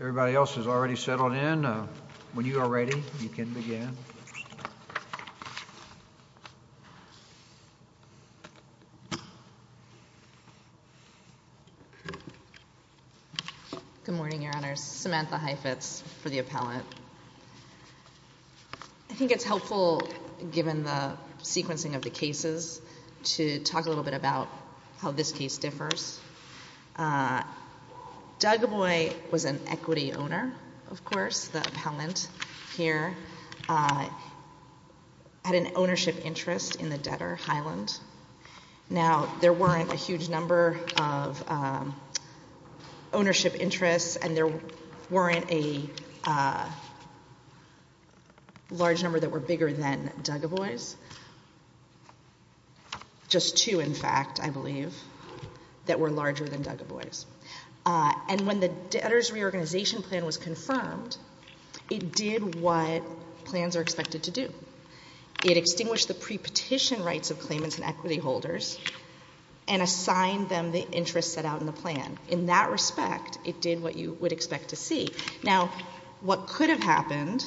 Everybody else has already settled in. When you are ready, you can begin. Good morning, Your Honors. Samantha Heifetz for the appellant. I think it's helpful, given the sequencing of the cases, to talk a little bit about how this case differs. Dugaboy was an equity owner, of course, the appellant here, had an ownership interest in the debtor, Highland. Now there weren't a huge number of ownership interests, and there weren't a large number that were bigger than Dugaboy's. Just two, in fact, I believe, that were larger than Dugaboy's. And when the debtor's reorganization plan was confirmed, it did what plans are expected to do. It extinguished the pre-petition rights of claimants and equity holders and assigned them the interest set out in the plan. In that respect, it did what you would expect to see. Now, what could have happened,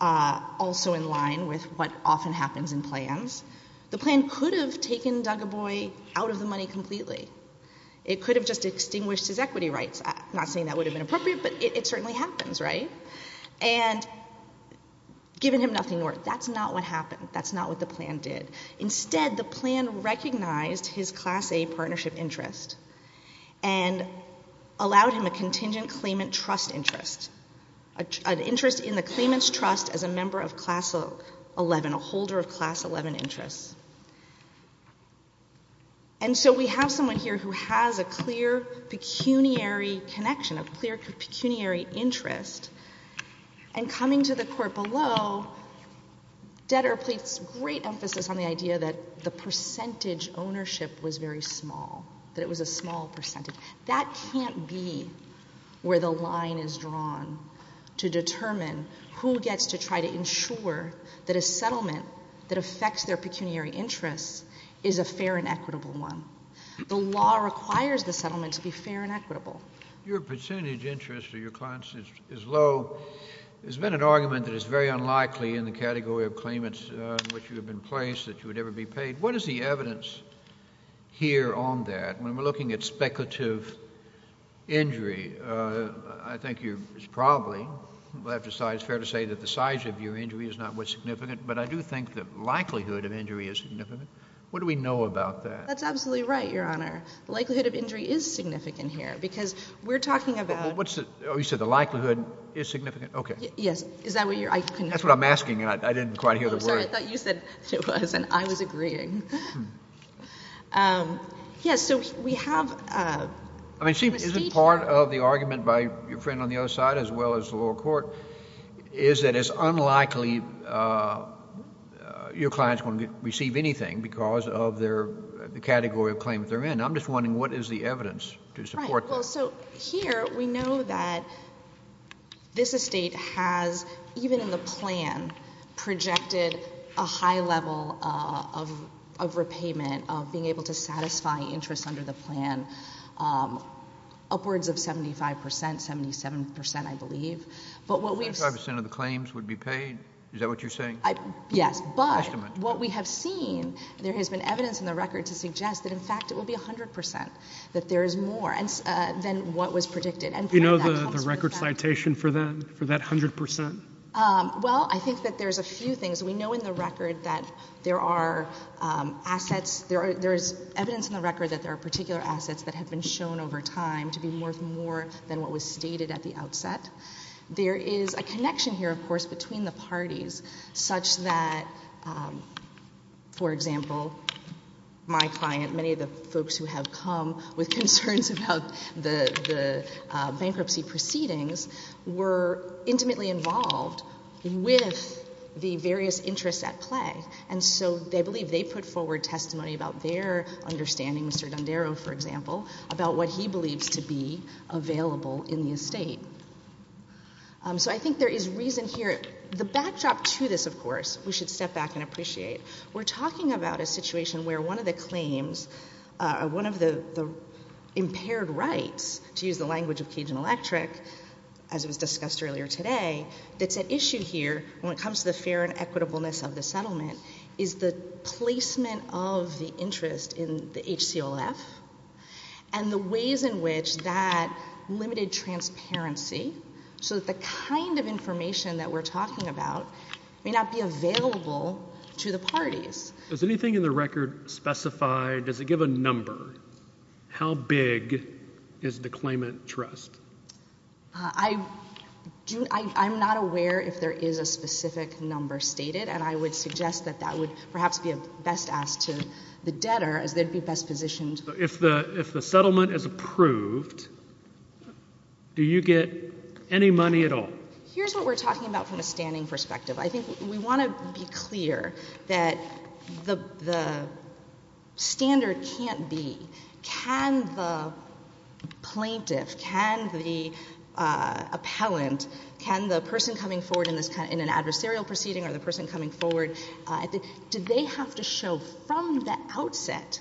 also in line with what often happens in plans, the plan could have taken Dugaboy out of the money completely. It could have just extinguished his equity rights. I'm not saying that would have been appropriate, but it certainly happens, right? And given him nothing more, that's not what happened. That's not what the plan did. Instead, the plan recognized his Class A partnership interest and allowed him a contingent claimant trust interest, an interest in the claimant's trust as a member of Class 11, a holder of Class 11 interests. And so we have someone here who has a clear pecuniary connection, a clear pecuniary interest, and coming to the court below, debtor placed great emphasis on the idea that the percentage ownership was very small, that it was a small percentage. That can't be where the line is drawn to determine who gets to try to ensure that a settlement that affects their pecuniary interests is a fair and equitable one. The law requires the settlement to be fair and equitable. Your percentage interest of your clients is low. There's been an argument that it's very unlikely in the category of claimants in which you have been placed that you would ever be paid. What is the evidence here on that? When we're looking at speculative injury, I think it's probably, it's fair to say that the size of your injury is not what's significant, but I do think the likelihood of injury is significant. What do we know about that? That's absolutely right, Your Honor. Likelihood of injury is significant here, because we're talking about. What's the, oh, you said the likelihood is significant? Okay. Yes. Is that what you're, I couldn't. That's what I'm asking, and I didn't quite hear the word. I'm sorry, I thought you said it was, and I was agreeing. Yes, so we have a. I mean, see, isn't part of the argument by your friend on the other side, as well as the lower court, is that it's unlikely your client's going to receive anything because of their, the category of claimant they're in. I'm just wondering, what is the evidence to support that? Right. Well, so here we know that this estate has, even in the plan, projected a high level of repayment, of being able to satisfy interest under the plan, upwards of 75%, 77%, I believe. But what we've. 75% of the claims would be paid? Is that what you're saying? Yes, but what we have seen, there has been evidence in the record to suggest that, in fact, it will be 100%, that there is more than what was predicted. You know the record citation for that, for that 100%? Well, I think that there's a few things. We know in the record that there are assets, there's evidence in the record that there are particular assets that have been shown over time to be worth more than what was stated at the outset. There is a connection here, of course, between the parties, such that, for example, my client, many of the folks who have come with concerns about the bankruptcy proceedings, were intimately involved with the various interests at play. And so, they believe they put forward testimony about their understanding, Mr. Dondero, for example, about what he believes to be available in the estate. So I think there is reason here. The backdrop to this, of course, we should step back and appreciate. We're talking about a situation where one of the claims, one of the impaired rights, to use the language of Cajun Electric, as it was discussed earlier today, that's at issue here when it comes to the fair and equitableness of the settlement, is the placement of the interest in the HCLF. And the ways in which that limited transparency, so that the kind of information that we're talking about may not be available to the parties. Does anything in the record specify, does it give a number, how big is the claimant trust? I'm not aware if there is a specific number stated, and I would suggest that that would perhaps be best asked to the debtor, as they'd be best positioned. If the settlement is approved, do you get any money at all? Here's what we're talking about from a standing perspective. I think we want to be clear that the standard can't be, can the plaintiff, can the appellant, can the person coming forward in an adversarial proceeding or the person coming forward, do they have to show from the outset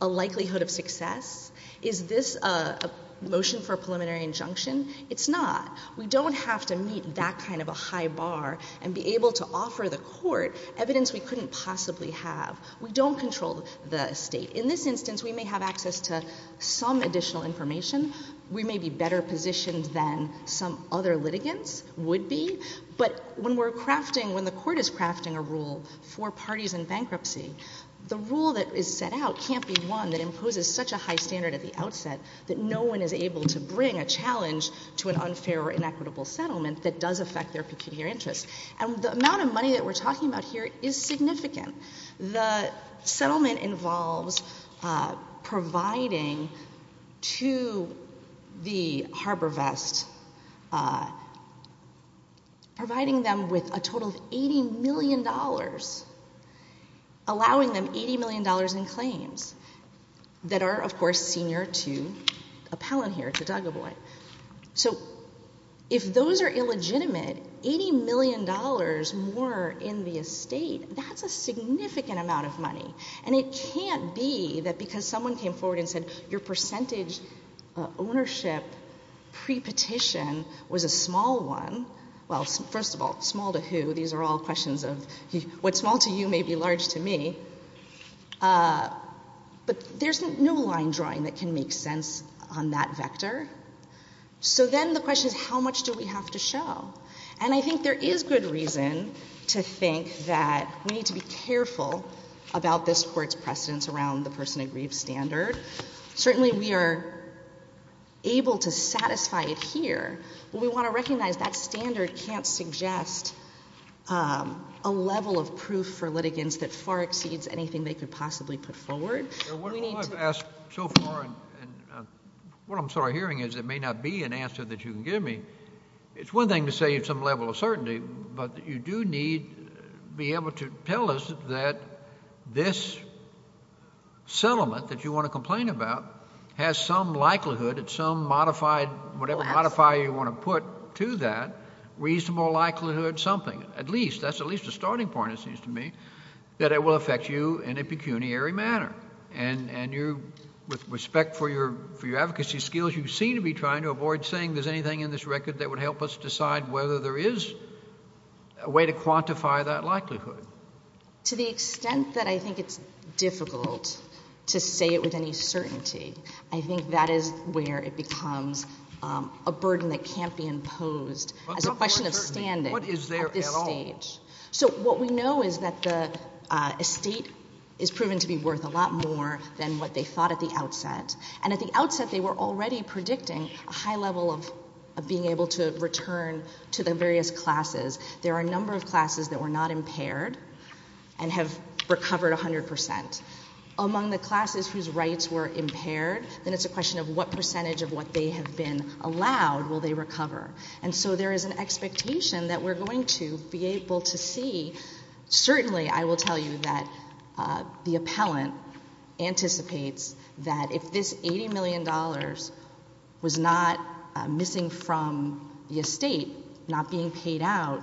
a likelihood of success? Is this a motion for a preliminary injunction? It's not. We don't have to meet that kind of a high bar and be able to offer the court evidence we couldn't possibly have. We don't control the state. In this instance, we may have access to some additional information. We may be better positioned than some other litigants would be. But when we're crafting, when the court is crafting a rule for parties in bankruptcy, the rule that is set out can't be one that imposes such a high standard at the outset that no one is able to bring a challenge to an unfair or inequitable settlement that does affect their pecuniary interests. And the amount of money that we're talking about here is significant. The settlement involves providing to the Harbor Vest, providing them with a total of $80 million, allowing them $80 million in claims that are, of course, senior to appellant here, to Duggaboy. So if those are illegitimate, $80 million more in the estate, that's a significant amount of money, and it can't be that because someone came forward and said your percentage ownership pre-petition was a small one. Well, first of all, small to who? These are all questions of what's small to you may be large to me. But there's no line drawing that can make sense on that vector. So then the question is, how much do we have to show? And I think there is good reason to think that we need to be careful about this court's precedence around the person agreed standard. Certainly, we are able to satisfy it here, but we want to recognize that standard can't suggest a level of proof for litigants that far exceeds anything they could possibly put forward. We need to- I've asked so far, and what I'm sort of hearing is there may not be an answer that you can give me. It's one thing to say it's some level of certainty, but you do need to be able to tell us that this settlement that you want to complain about has some likelihood, it's some modified, whatever modifier you want to put to that, reasonable likelihood something. At least, that's at least a starting point, it seems to me, that it will affect you in a pecuniary manner. And with respect for your advocacy skills, you seem to be trying to avoid saying there's anything in this record that would help us decide whether there is a way to quantify that likelihood. To the extent that I think it's difficult to say it with any certainty, I think that is where it becomes a burden that can't be imposed as a question of standing at this stage. So what we know is that the estate is proven to be worth a lot more than what they thought at the outset. And at the outset, they were already predicting a high level of being able to return to the various classes. There are a number of classes that were not impaired and have recovered 100%. Among the classes whose rights were impaired, then it's a question of what percentage of what they have been allowed will they recover. And so there is an expectation that we're going to be able to see, certainly I will tell you that the appellant anticipates that if this $80 million was not missing from the estate, not being paid out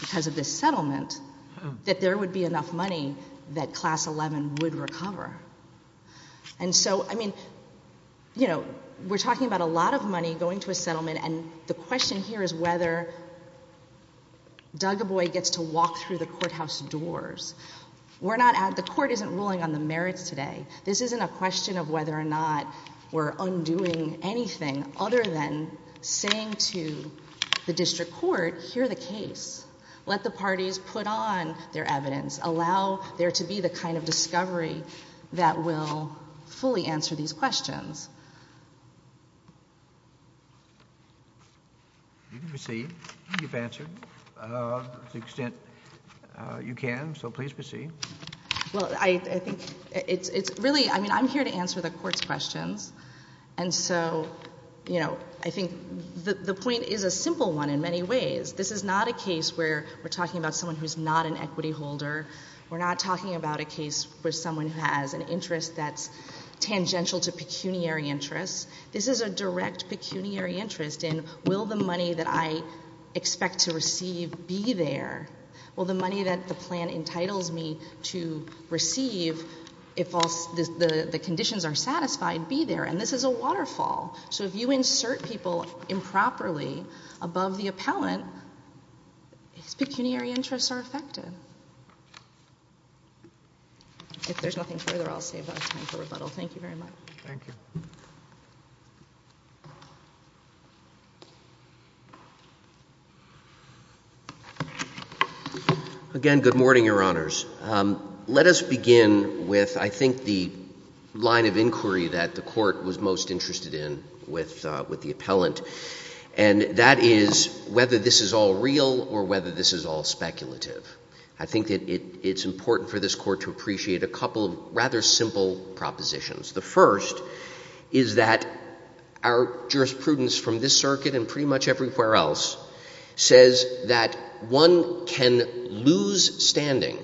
because of this settlement, that there would be enough money that class 11 would recover. And so, I mean, we're talking about a lot of money going to a settlement and the question here is whether Dugaboy gets to walk through the courthouse doors. We're not at, the court isn't ruling on the merits today. This isn't a question of whether or not we're undoing anything other than saying to the district court, hear the case. Let the parties put on their evidence. Allow there to be the kind of discovery that will fully answer these questions. You can proceed. You've answered to the extent you can, so please proceed. Well, I think it's really, I mean, I'm here to answer the court's questions. And so, I think the point is a simple one in many ways. This is not a case where we're talking about someone who's not an equity holder. We're not talking about a case where someone has an interest that's tangential to pecuniary interests. This is a direct pecuniary interest in, will the money that I expect to receive be there? Will the money that the plan entitles me to receive, if the conditions are satisfied, be there? And this is a waterfall. So if you insert people improperly above the appellant, his pecuniary interests are affected. If there's nothing further, I'll save that time for rebuttal. Thank you very much. Thank you. Again, good morning, your honors. Let us begin with, I think, the line of inquiry that the court was most interested in with the appellant. And that is whether this is all real or whether this is all speculative. I think that it's important for this court to appreciate a couple of rather simple propositions. The first is that our jurisprudence from this circuit and can lose standing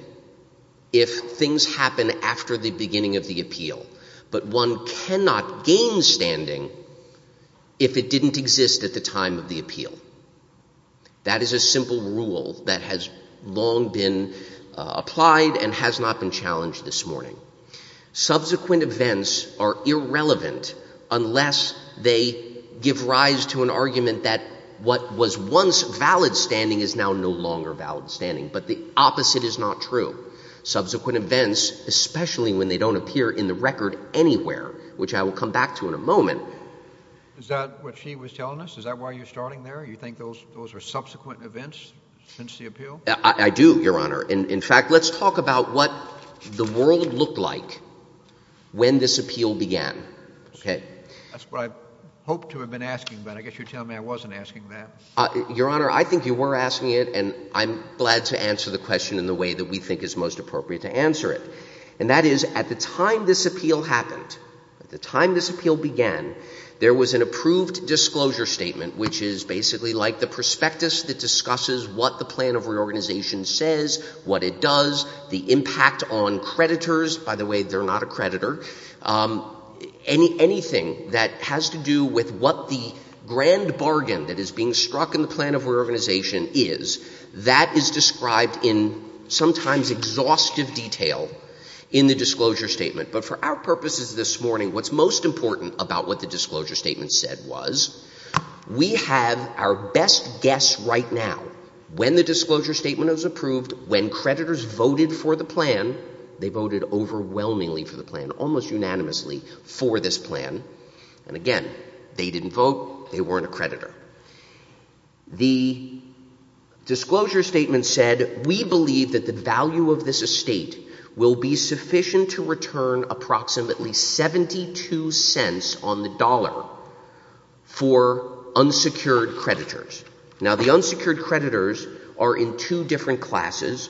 if things happen after the beginning of the appeal. But one cannot gain standing if it didn't exist at the time of the appeal. That is a simple rule that has long been applied and has not been challenged this morning. Subsequent events are irrelevant unless they give rise to an argument that what was once valid standing is now no longer valid standing. But the opposite is not true. Subsequent events, especially when they don't appear in the record anywhere, which I will come back to in a moment. Is that what she was telling us? Is that why you're starting there? You think those are subsequent events since the appeal? I do, your honor. And in fact, let's talk about what the world looked like when this appeal began, okay? That's what I hoped to have been asking. But I guess you're telling me I wasn't asking that. Your honor, I think you were asking it, and I'm glad to answer the question in the way that we think is most appropriate to answer it. And that is, at the time this appeal happened, at the time this appeal began, there was an approved disclosure statement, which is basically like the prospectus that discusses what the plan of reorganization says, what it does, the impact on creditors. By the way, they're not a creditor. Anything that has to do with what the grand bargain that is being struck in the plan of reorganization is, that is described in sometimes exhaustive detail in the disclosure statement. But for our purposes this morning, what's most important about what the disclosure statement said was, we have our best guess right now, when the disclosure statement was approved, when creditors voted for the plan, they voted overwhelmingly for the plan. Almost unanimously for this plan. And again, they didn't vote, they weren't a creditor. The disclosure statement said, we believe that the value of this estate will be sufficient to return approximately $0.72 on the dollar for unsecured creditors. Now the unsecured creditors are in two different classes.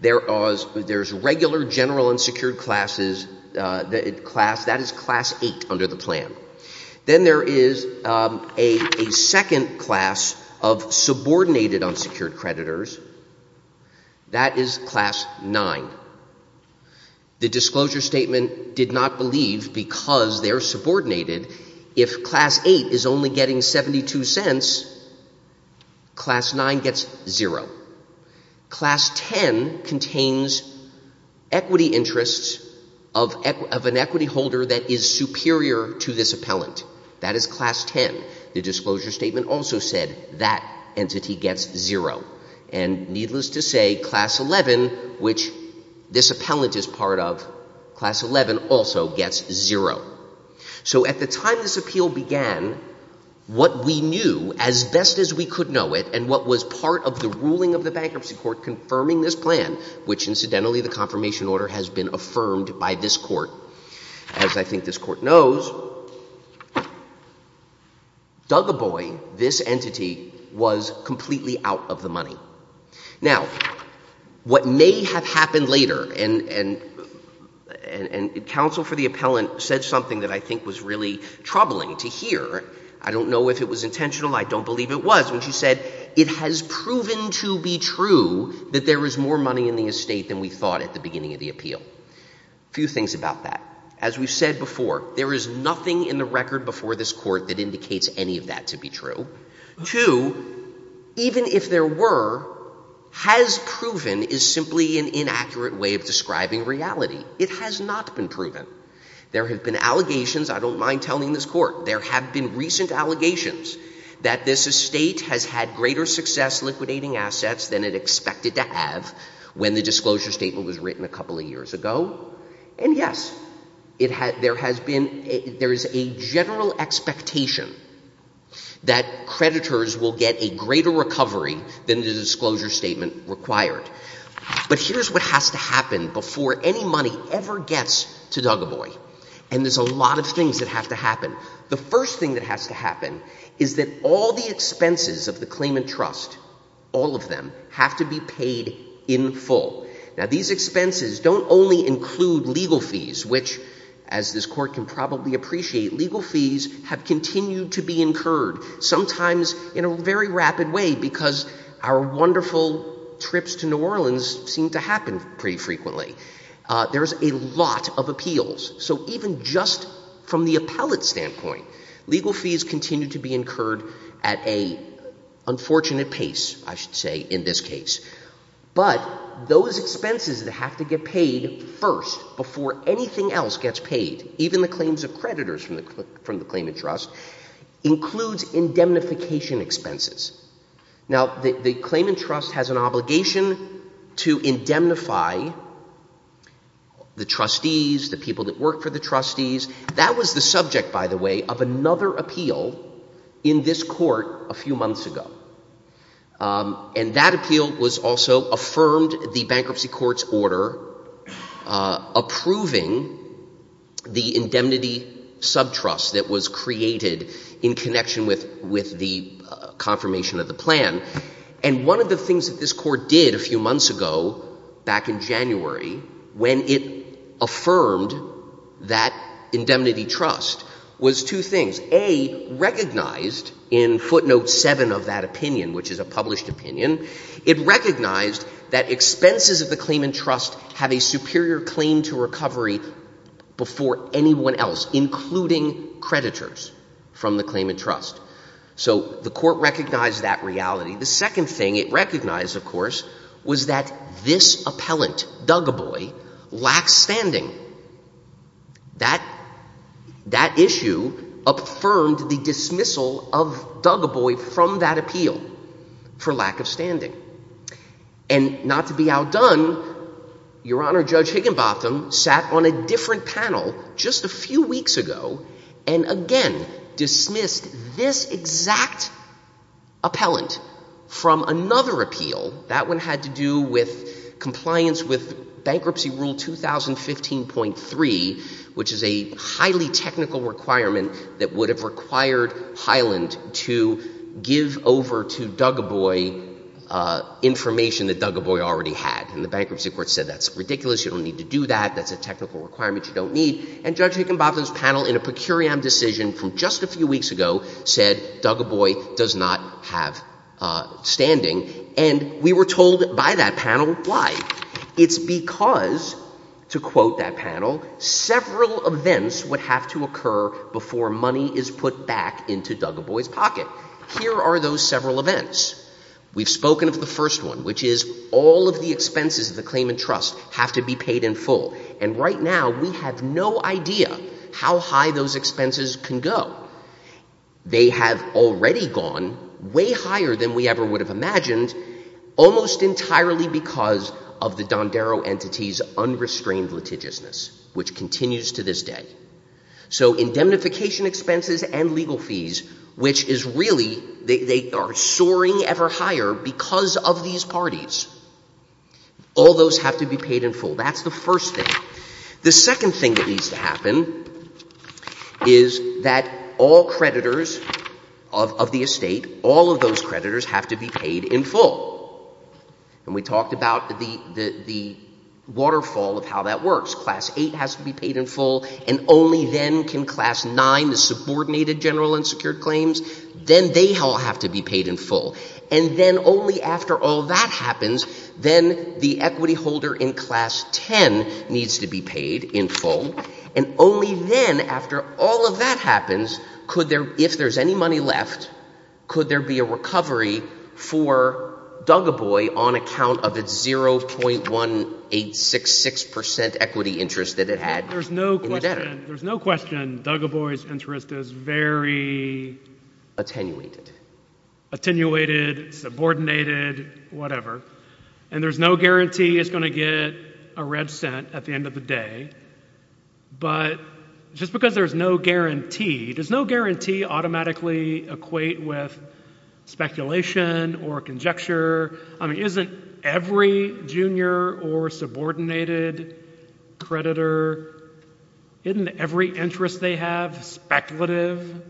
There's regular general unsecured classes, that is class 8 under the plan. Then there is a second class of subordinated unsecured creditors, that is class 9. The disclosure statement did not believe, because they're subordinated, if class 8 is only getting $0.72, class 9 gets $0. Class 10 contains equity interests of an equity holder that is superior to this appellant. That is class 10. The disclosure statement also said that entity gets $0. And needless to say, class 11, which this appellant is part of, class 11 also gets $0. So at the time this appeal began, what we knew, as best as we could know it, and what was part of the ruling of the bankruptcy court confirming this plan, which incidentally the confirmation order has been affirmed by this court, as I think this court knows, dug a boy, this entity was completely out of the money. Now, what may have happened later, and counsel for the appellant said something that I think was really troubling to hear. I don't know if it was intentional, I don't believe it was, when she said, it has proven to be true that there is more money in the estate than we thought at the beginning of the appeal. A few things about that. As we've said before, there is nothing in the record before this court that indicates any of that to be true. Two, even if there were, has proven is simply an inaccurate way of describing reality. It has not been proven. There have been allegations, I don't mind telling this court, there have been recent allegations that this estate has had greater success liquidating assets than it expected to have when the disclosure statement was written a couple of years ago. And yes, there is a general expectation that creditors will get a greater recovery than the disclosure statement required. But here's what has to happen before any money ever gets to Dugaboy. And there's a lot of things that have to happen. The first thing that has to happen is that all the expenses of the claimant trust, all of them, have to be paid in full. Now, these expenses don't only include legal fees, which, as this court can probably appreciate, legal fees have continued to be incurred, sometimes in a very rapid way, because our wonderful trips to New Orleans seem to happen pretty frequently. There's a lot of appeals. So even just from the appellate standpoint, legal fees continue to be incurred at an unfortunate pace, I should say, in this case. But those expenses that have to get paid first, before anything else gets paid, even the claims of creditors from the claimant trust, includes indemnification expenses. Now, the claimant trust has an obligation to indemnify the trustees, the people that work for the trustees. That was the subject, by the way, of another appeal in this court a few months ago. And that appeal was also affirmed the bankruptcy court's order approving the indemnity subtrust that was created in connection with the confirmation of the plan. And one of the things that this court did a few months ago, back in January, when it affirmed that indemnity trust, was two things. A, recognized in footnote seven of that opinion, which is a published opinion, it recognized that expenses of the claimant trust have a superior claim to recovery before anyone else, including creditors from the claimant trust. So the court recognized that reality. The second thing it recognized, of course, was that this appellant, Dugaboy, lacks standing. That issue affirmed the dismissal of Dugaboy from that appeal for lack of standing. And not to be outdone, Your Honor, Judge Higginbotham sat on a different panel just a few weeks ago and again dismissed this exact appellant from another appeal. That one had to do with compliance with Bankruptcy Rule 2015.3, which is a highly technical requirement that would have required Highland to give over to Dugaboy information that Dugaboy already had. And the bankruptcy court said that's ridiculous, you don't need to do that, that's a technical requirement you don't need. And Judge Higginbotham's panel in a per curiam decision from just a few weeks ago said Dugaboy does not have standing. And we were told by that panel why. It's because, to quote that panel, several events would have to occur before money is put back into Dugaboy's pocket. Here are those several events. We've spoken of the first one, which is all of the expenses of the claimant trust have to be paid in full. And right now we have no idea how high those expenses can go. They have already gone way higher than we ever would have imagined, almost entirely because of the Dondero entity's unrestrained litigiousness, which continues to this day. So indemnification expenses and legal fees, which is really, they are soaring ever higher because of these parties. All those have to be paid in full. That's the first thing. The second thing that needs to happen is that all creditors of the estate, all of those creditors have to be paid in full. And we talked about the waterfall of how that works. Class 8 has to be paid in full, and only then can Class 9, the subordinated general unsecured claims, then they all have to be paid in full. And then only after all that happens, then the equity holder in Class 10 needs to be paid in full. And only then, after all of that happens, if there's any money left, could there be a recovery for Dugaboy on account of its 0.1866% equity interest that it had in the debtor? There's no question Dugaboy's interest is very... Attenuated. Attenuated, subordinated, whatever. And there's no guarantee it's going to get a red cent at the end of the day. But just because there's no guarantee, does no guarantee automatically equate with speculation or conjecture? I mean, isn't every junior or subordinated creditor, isn't every interest they have speculative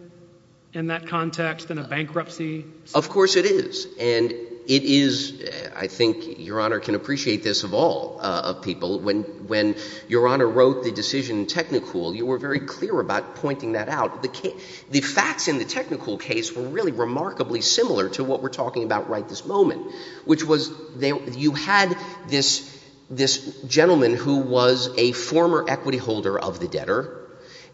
in that context in a bankruptcy? Of course it is. And it is, I think Your Honour can appreciate this of all people, when Your Honour wrote the decision in Technicool, you were very clear about pointing that out. The facts in the Technicool case were really remarkably similar to what we're talking about right this moment, which was you had this gentleman who was a former equity holder of the debtor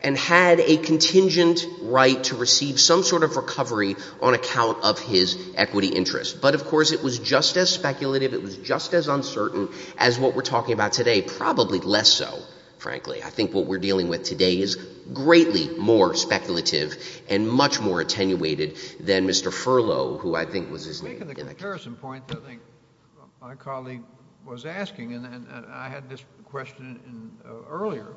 and had a contingent right to receive some sort of recovery on account of his equity interest. But of course it was just as speculative, it was just as uncertain as what we're talking about today. Probably less so, frankly. I think what we're dealing with today is greatly more speculative and much more attenuated than Mr. Furlow, who I think was his name. Making the comparison point that I think my colleague was asking, and I had this question earlier,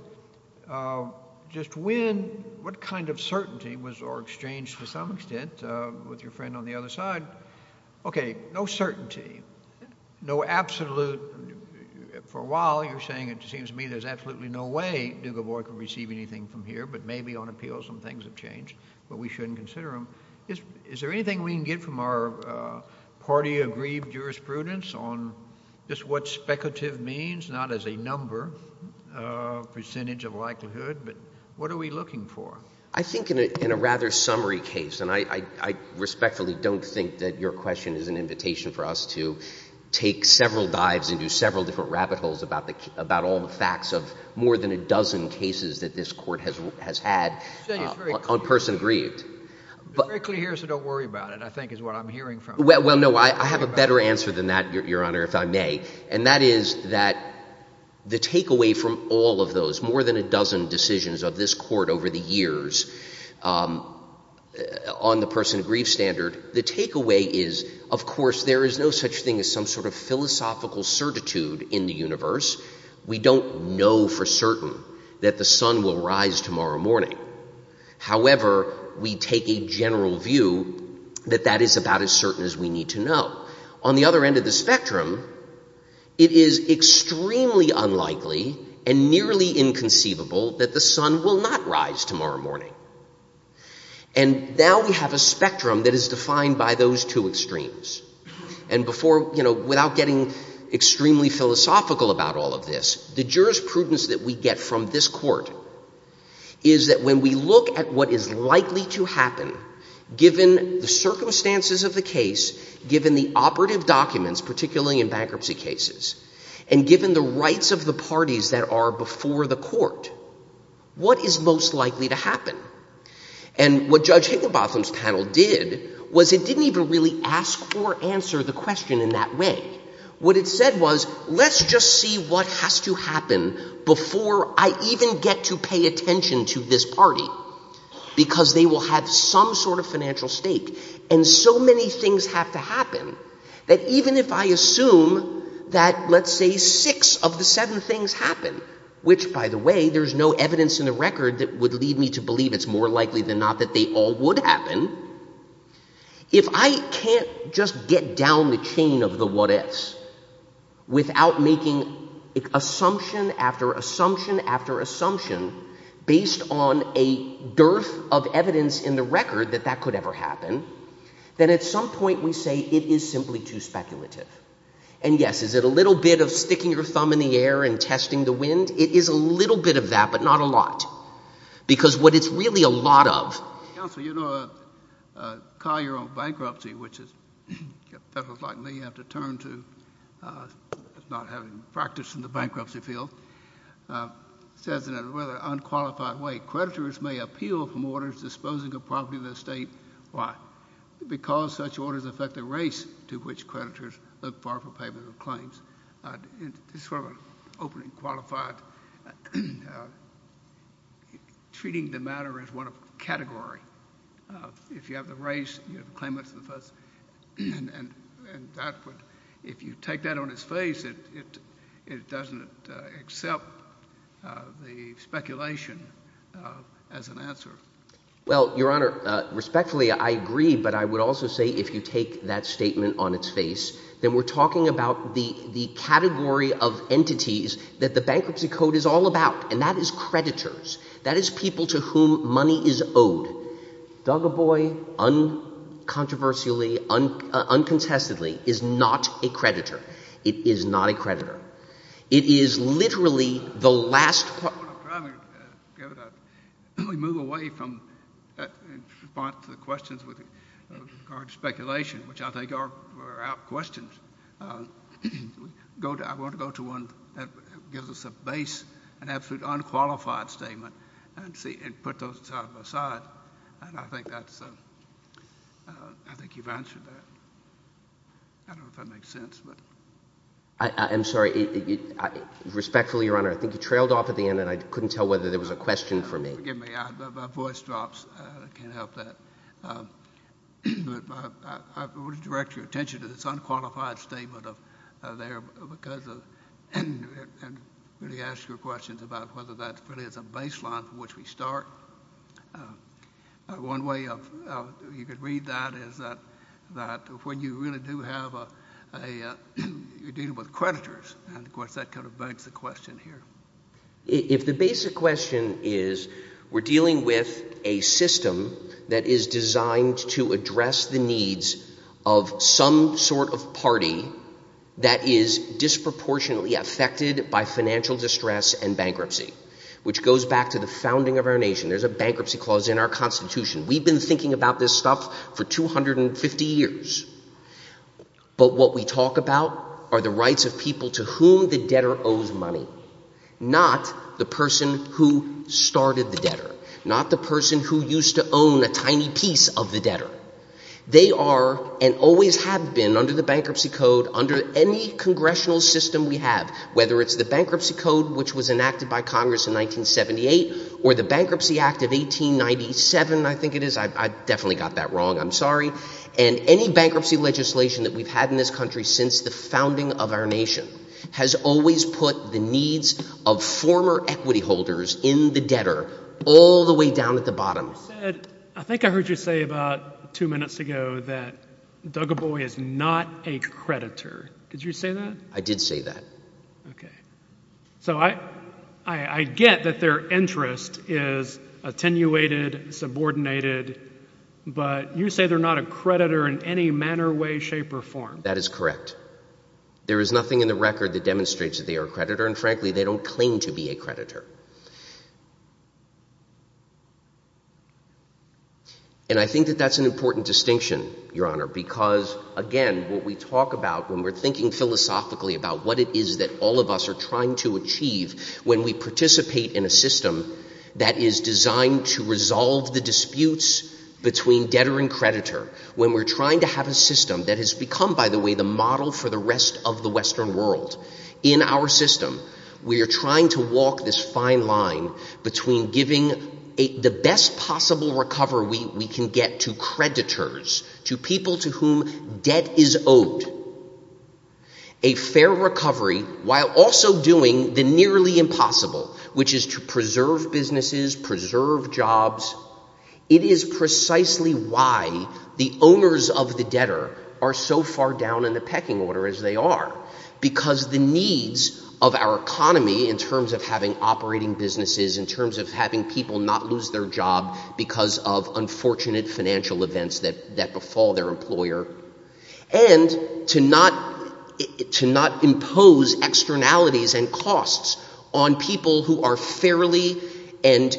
just when, what kind of certainty was, or exchanged to some extent, with your friend on the other side, okay, no certainty, no absolute, for a while you're saying it seems to me there's absolutely no way Dugovoy could receive anything from here, but maybe on appeal some things have changed, but we shouldn't consider them. Is there anything we can get from our party-agreed jurisprudence on just what speculative means, not as a number, percentage of likelihood, but what are we looking for? I think in a rather summary case, and I respectfully don't think that your question is an invitation for us to take several dives into several different rabbit holes about all the facts of more than a dozen cases that this court has had on person aggrieved. It's very clear here, so don't worry about it, I think is what I'm hearing from you. Well, no, I have a better answer than that. Your Honour, if I may, and that is that the takeaway from all of those, more than a dozen decisions of this court over the years on the person aggrieved standard, the takeaway is, of course, there is no such thing as some sort of philosophical certitude in the universe. We don't know for certain that the sun will rise tomorrow morning. However, we take a general view that that is about as certain as we need to know. On the other end of the spectrum, it is extremely unlikely and nearly inconceivable that the sun will not rise tomorrow morning. And now we have a spectrum that is defined by those two extremes. And before, you know, without getting extremely philosophical about all of this, the jurisprudence that we get from this court is that when we look at what is likely to happen, given the circumstances of the case, given the operative documents, particularly in bankruptcy cases, and given the rights of the parties that are before the court, what is most likely to happen? And what Judge Higginbotham's panel did was it didn't even really ask or answer the question in that way. What it said was, let's just see what has to happen before I even get to pay attention to this party, because they will have some sort of financial stake. And so many things have to happen that even if I assume that, let's say, six of the seven things happen, which, by the way, there's no evidence in the record that would lead me to believe it's more likely than not that they all would happen, if I can't just get down the chain of the what-ifs without making assumption after assumption after assumption based on a dearth of evidence in the record that that could ever happen, then at some point we say it is simply too speculative. And, yes, is it a little bit of sticking your thumb in the air and testing the wind? It is a little bit of that, but not a lot, because what it's really a lot of... Councillor, you know, a collier on bankruptcy, which is, if federals like me have to turn to, not having practice in the bankruptcy field, says in a rather unqualified way, creditors may appeal from orders disposing of property of the estate. Why? Because such orders affect the race to which creditors look for for payment of claims. It's sort of an open and qualified... ..treating the matter as one of a category. If you have the race, you have the claimants of the first... And that would... If you take that on its face, it doesn't accept the speculation as an answer. Well, Your Honour, respectfully, I agree, but I would also say if you take that statement on its face, then we're talking about the category of entities that the Bankruptcy Code is all about, and that is creditors. That is people to whom money is owed. Duggarboy, uncontroversially, uncontestedly, is not a creditor. It is not a creditor. It is literally the last part... I'm trying to get a... We move away from... ..in response to the questions with regard to speculation, which I think are out-questioned. I want to go to one that gives us a base, an absolute unqualified statement, and see...and put those aside. And I think that's... I think you've answered that. I don't know if that makes sense, but... I'm sorry. Respectfully, Your Honour, I think you trailed off at the end and I couldn't tell whether there was a question for me. Forgive me. My voice drops. I can't help that. I would direct your attention to this unqualified statement there because of... And really ask your questions about whether that really is a baseline from which we start. One way you could read that is that... ..when you really do have a... ..you're dealing with creditors. And, of course, that kind of begs the question here. If the basic question is, we're dealing with a system that is designed to address the needs of some sort of party that is disproportionately affected by financial distress and bankruptcy, which goes back to the founding of our nation. There's a bankruptcy clause in our Constitution. We've been thinking about this stuff for 250 years. But what we talk about are the rights of people to whom the debtor owes money, not the person who started the debtor, not the person who used to own a tiny piece of the debtor. They are, and always have been, under the Bankruptcy Code, under any congressional system we have, whether it's the Bankruptcy Code, which was enacted by Congress in 1978, or the Bankruptcy Act of 1897, I think it is. I definitely got that wrong. I'm sorry. And any bankruptcy legislation that we've had in this country since the founding of our nation has always put the needs of former equity holders in the debtor, all the way down at the bottom. You said, I think I heard you say about two minutes ago, that Doug Abboy is not a creditor. Did you say that? I did say that. So I get that their interest is attenuated, subordinated, but you say they're not a creditor in any manner, way, shape, or form. That is correct. There is nothing in the record that demonstrates that they are a creditor, and frankly, they don't claim to be a creditor. And I think that that's an important distinction, Your Honor, because, again, what we talk about when we're thinking philosophically about what it is that all of us are trying to achieve when we participate in a system that is designed to resolve the disputes between debtor and creditor, when we're trying to have a system that has become, by the way, the model for the rest of the Western world. In our system, we are trying to walk this fine line between giving the best possible recovery we can get to creditors, to people to whom debt is owed, a fair recovery, while also doing the nearly impossible, which is to preserve businesses, preserve jobs. It is precisely why the owners of the debtor are so far down in the pecking order as they are, because the needs of our economy in terms of having operating businesses, in terms of having people not lose their job because of unfortunate financial events that befall their employer, and to not impose externalities and costs on people who are fairly and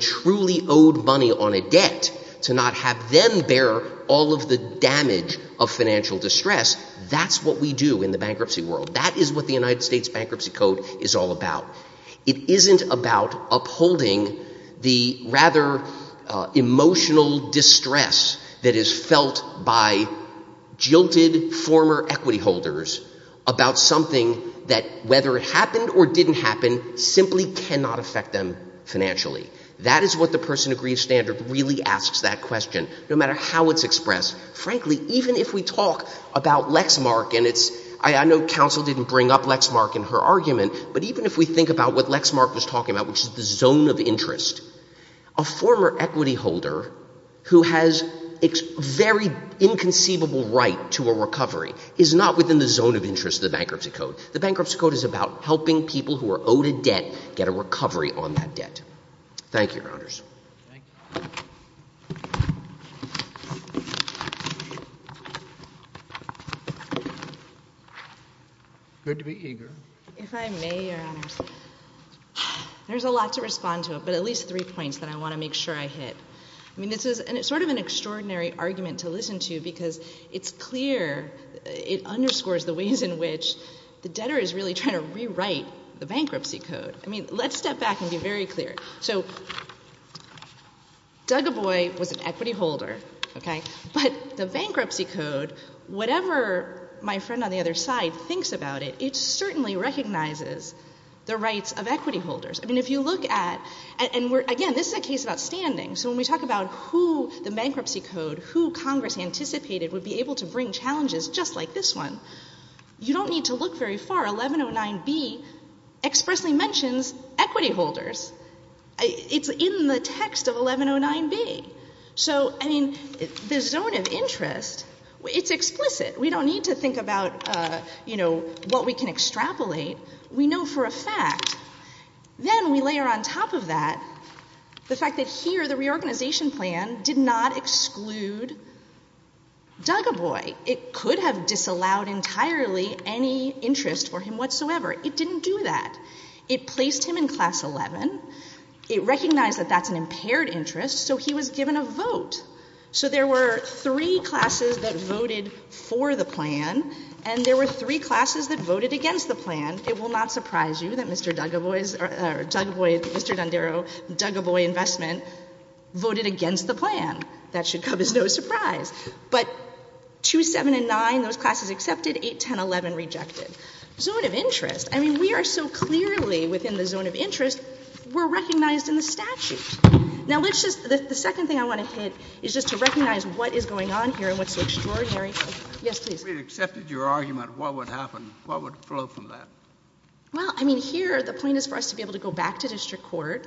truly owed money on a debt, to not have them bear all of the damage of financial distress. That's what we do in the bankruptcy world. That is what the United States Bankruptcy Code is all about. It isn't about upholding the rather emotional distress that is felt by jilted former equity holders about something that, whether it happened or didn't happen, simply cannot affect them financially. That is what the person who agrees standard really asks that question, no matter how it's expressed. Frankly, even if we talk about Lexmark, and I know Council didn't bring up Lexmark in her argument, but even if we think about what Lexmark was talking about, which is the zone of interest, a former equity holder who has a very inconceivable right to a recovery is not within the zone of interest of the Bankruptcy Code. The Bankruptcy Code is about helping people who are owed a debt get a recovery on that debt. Thank you, Your Honors. Good to be eager. If I may, Your Honors. There's a lot to respond to, but at least three points that I want to make sure I hit. It's sort of an extraordinary argument to listen to because it's clear, it underscores the ways in which the debtor is really trying to rewrite the Bankruptcy Code. Let's step back and be very clear. Doug Aboy was an equity holder, but the Bankruptcy Code, whatever my friend on the other side thinks about it, it certainly recognizes the rights of equity holders. If you look at, again, this is a case about standing, so when we talk about who the Bankruptcy Code, who Congress anticipated would be able to bring challenges just like this one, you don't need to look very far. 1109B expressly mentions equity holders. It's in the text of 1109B. The zone of interest, it's explicit. We don't need to think about what we can extrapolate. We know for a fact. Then we layer on top of that the fact that here the reorganization plan did not exclude Doug Aboy. It could have disallowed entirely any interest for him whatsoever. It didn't do that. It placed him in class 11. It recognized that that's an impaired interest, so he was given a vote. So there were three classes that voted for the plan, and there were three classes that voted against the plan. It will not surprise you that Mr. Doug Aboy or Doug Aboy, Mr. D'Andaro, Doug Aboy investment voted against the plan. That should come as no surprise. But 27 and 9, those classes accepted. 8, 10, 11 rejected. Zone of interest. I mean, we are so clearly within the zone of interest, we're recognized in the statute. Now let's just, the second thing I want to hit is just to recognize what is going on here and what's so extraordinary. If we had accepted your argument, what would happen? Well, I mean, here the point is for us to be able to go back to district court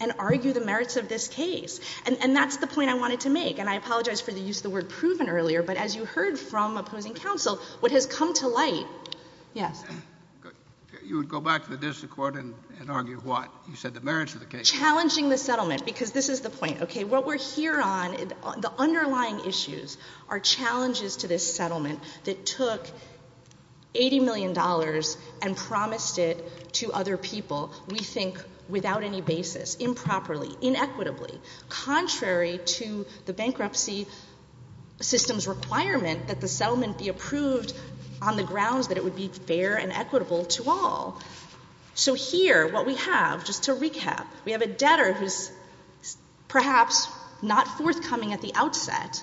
and argue the merits of this case. And that's the point I wanted to make. And I apologize for the use of the word proven earlier, but as you heard from opposing counsel, what has come to light. Yes. You would go back to the district court and argue what? You said the merits of the case. Challenging the settlement, because this is the point. What we're here on, the underlying issues are challenges to this settlement that took $80 million and promised it to other people. We think without any basis, improperly, inequitably, contrary to the bankruptcy system's requirement that the settlement be approved on the grounds that it would be fair and equitable to all. So here, what we have, just to recap, we have a debtor who's perhaps not forthcoming at the outset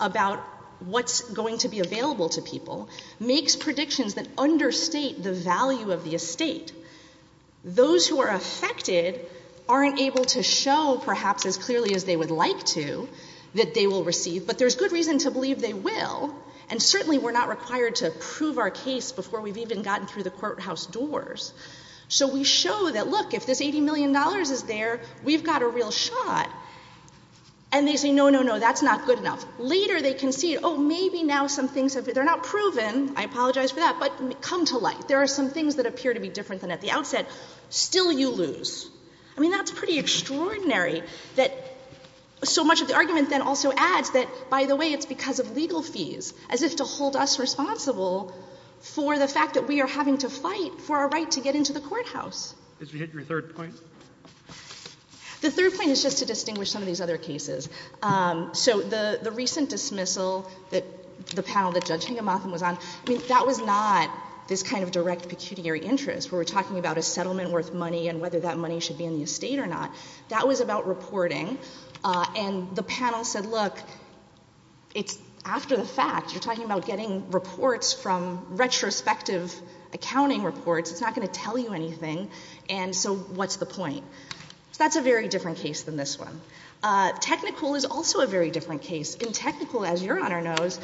about what's going to be available to people, makes predictions that understate the value of the estate. Those who are affected aren't able to show, perhaps as clearly as they would like to, that they will receive, but there's good reason to believe they will, and certainly we're not required to prove our case before we've even gotten through the courthouse doors. So we show that, look, if this $80 million is there, we've got a real shot. And they say, no, no, no, that's not good enough. Later they concede, oh, maybe now some things have, they're not proven, I apologize for that, but come to light. There are some things that appear to be different than at the outset. Still you lose. I mean, that's pretty extraordinary that so much of the argument then also adds that, by the way, it's because of legal fees, as if to hold us responsible for the fact that we are having to fight for our right to get into the courthouse. Did you hit your third point? The third point is just to distinguish some of these other cases. The recent dismissal that the panel that Judge Higamotham was on, that was not this kind of direct pecuniary interest. We were talking about a settlement worth money and whether that money should be in the estate or not. That was about reporting, and the panel said, look, after the fact, you're talking about getting reports from retrospective accounting reports. It's not going to tell you anything, and so what's the point? That's a very different case than this one. Technical is also a very different case. In technical, as Your Honor knows,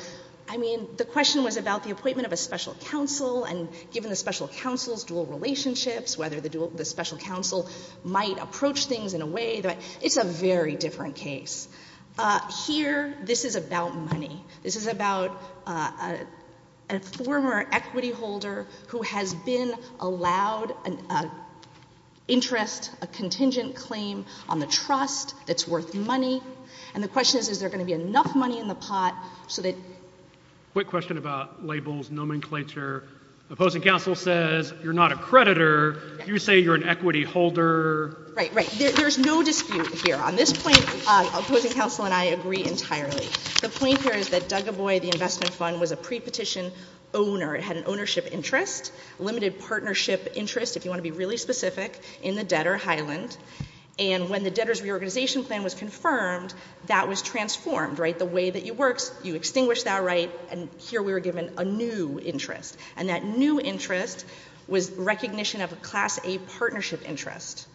I mean, the question was about the appointment of a special counsel, and given the special counsel's dual relationships, whether the special counsel might approach things in a way that it's a very different case. Here, this is about money. This is about a former equity holder who has been allowed interest, a contingent claim on the trust that's worth money, and the question is, is there going to be enough money in the pot so that... Quick question about labels, nomenclature. Opposing counsel says you're not a creditor. You say you're an equity holder. Right, right. There's no dispute here. On this point, opposing counsel and I agree entirely. The point here is that Duggaboy, the investment fund, was a pre-petition owner. It had an ownership interest, limited partnership interest, if you want to be really specific, in the debtor, Highland, and when the debtor's reorganization plan was confirmed, that was transformed. Right? The way that you work, you extinguish that right, and here we were given a new interest, and that new interest was recognition of a Class A partnership interest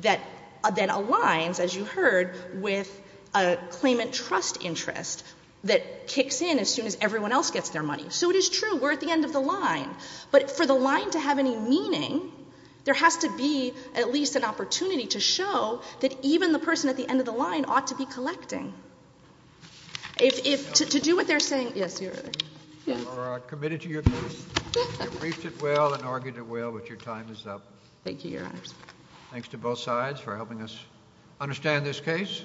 that aligns, as you heard, with a claimant trust interest that kicks in as soon as everyone else gets their money. So it is true. We're at the end of the line, but for the line to have any meaning, there has to be at least an opportunity to show that even the person at the end of the line ought to be collecting. To do what they're saying. Yes, Your Honor. You are committed to your case. You briefed it well and argued it well, but your time is up. Thank you, Your Honors. Thanks to both sides for helping us understand this case.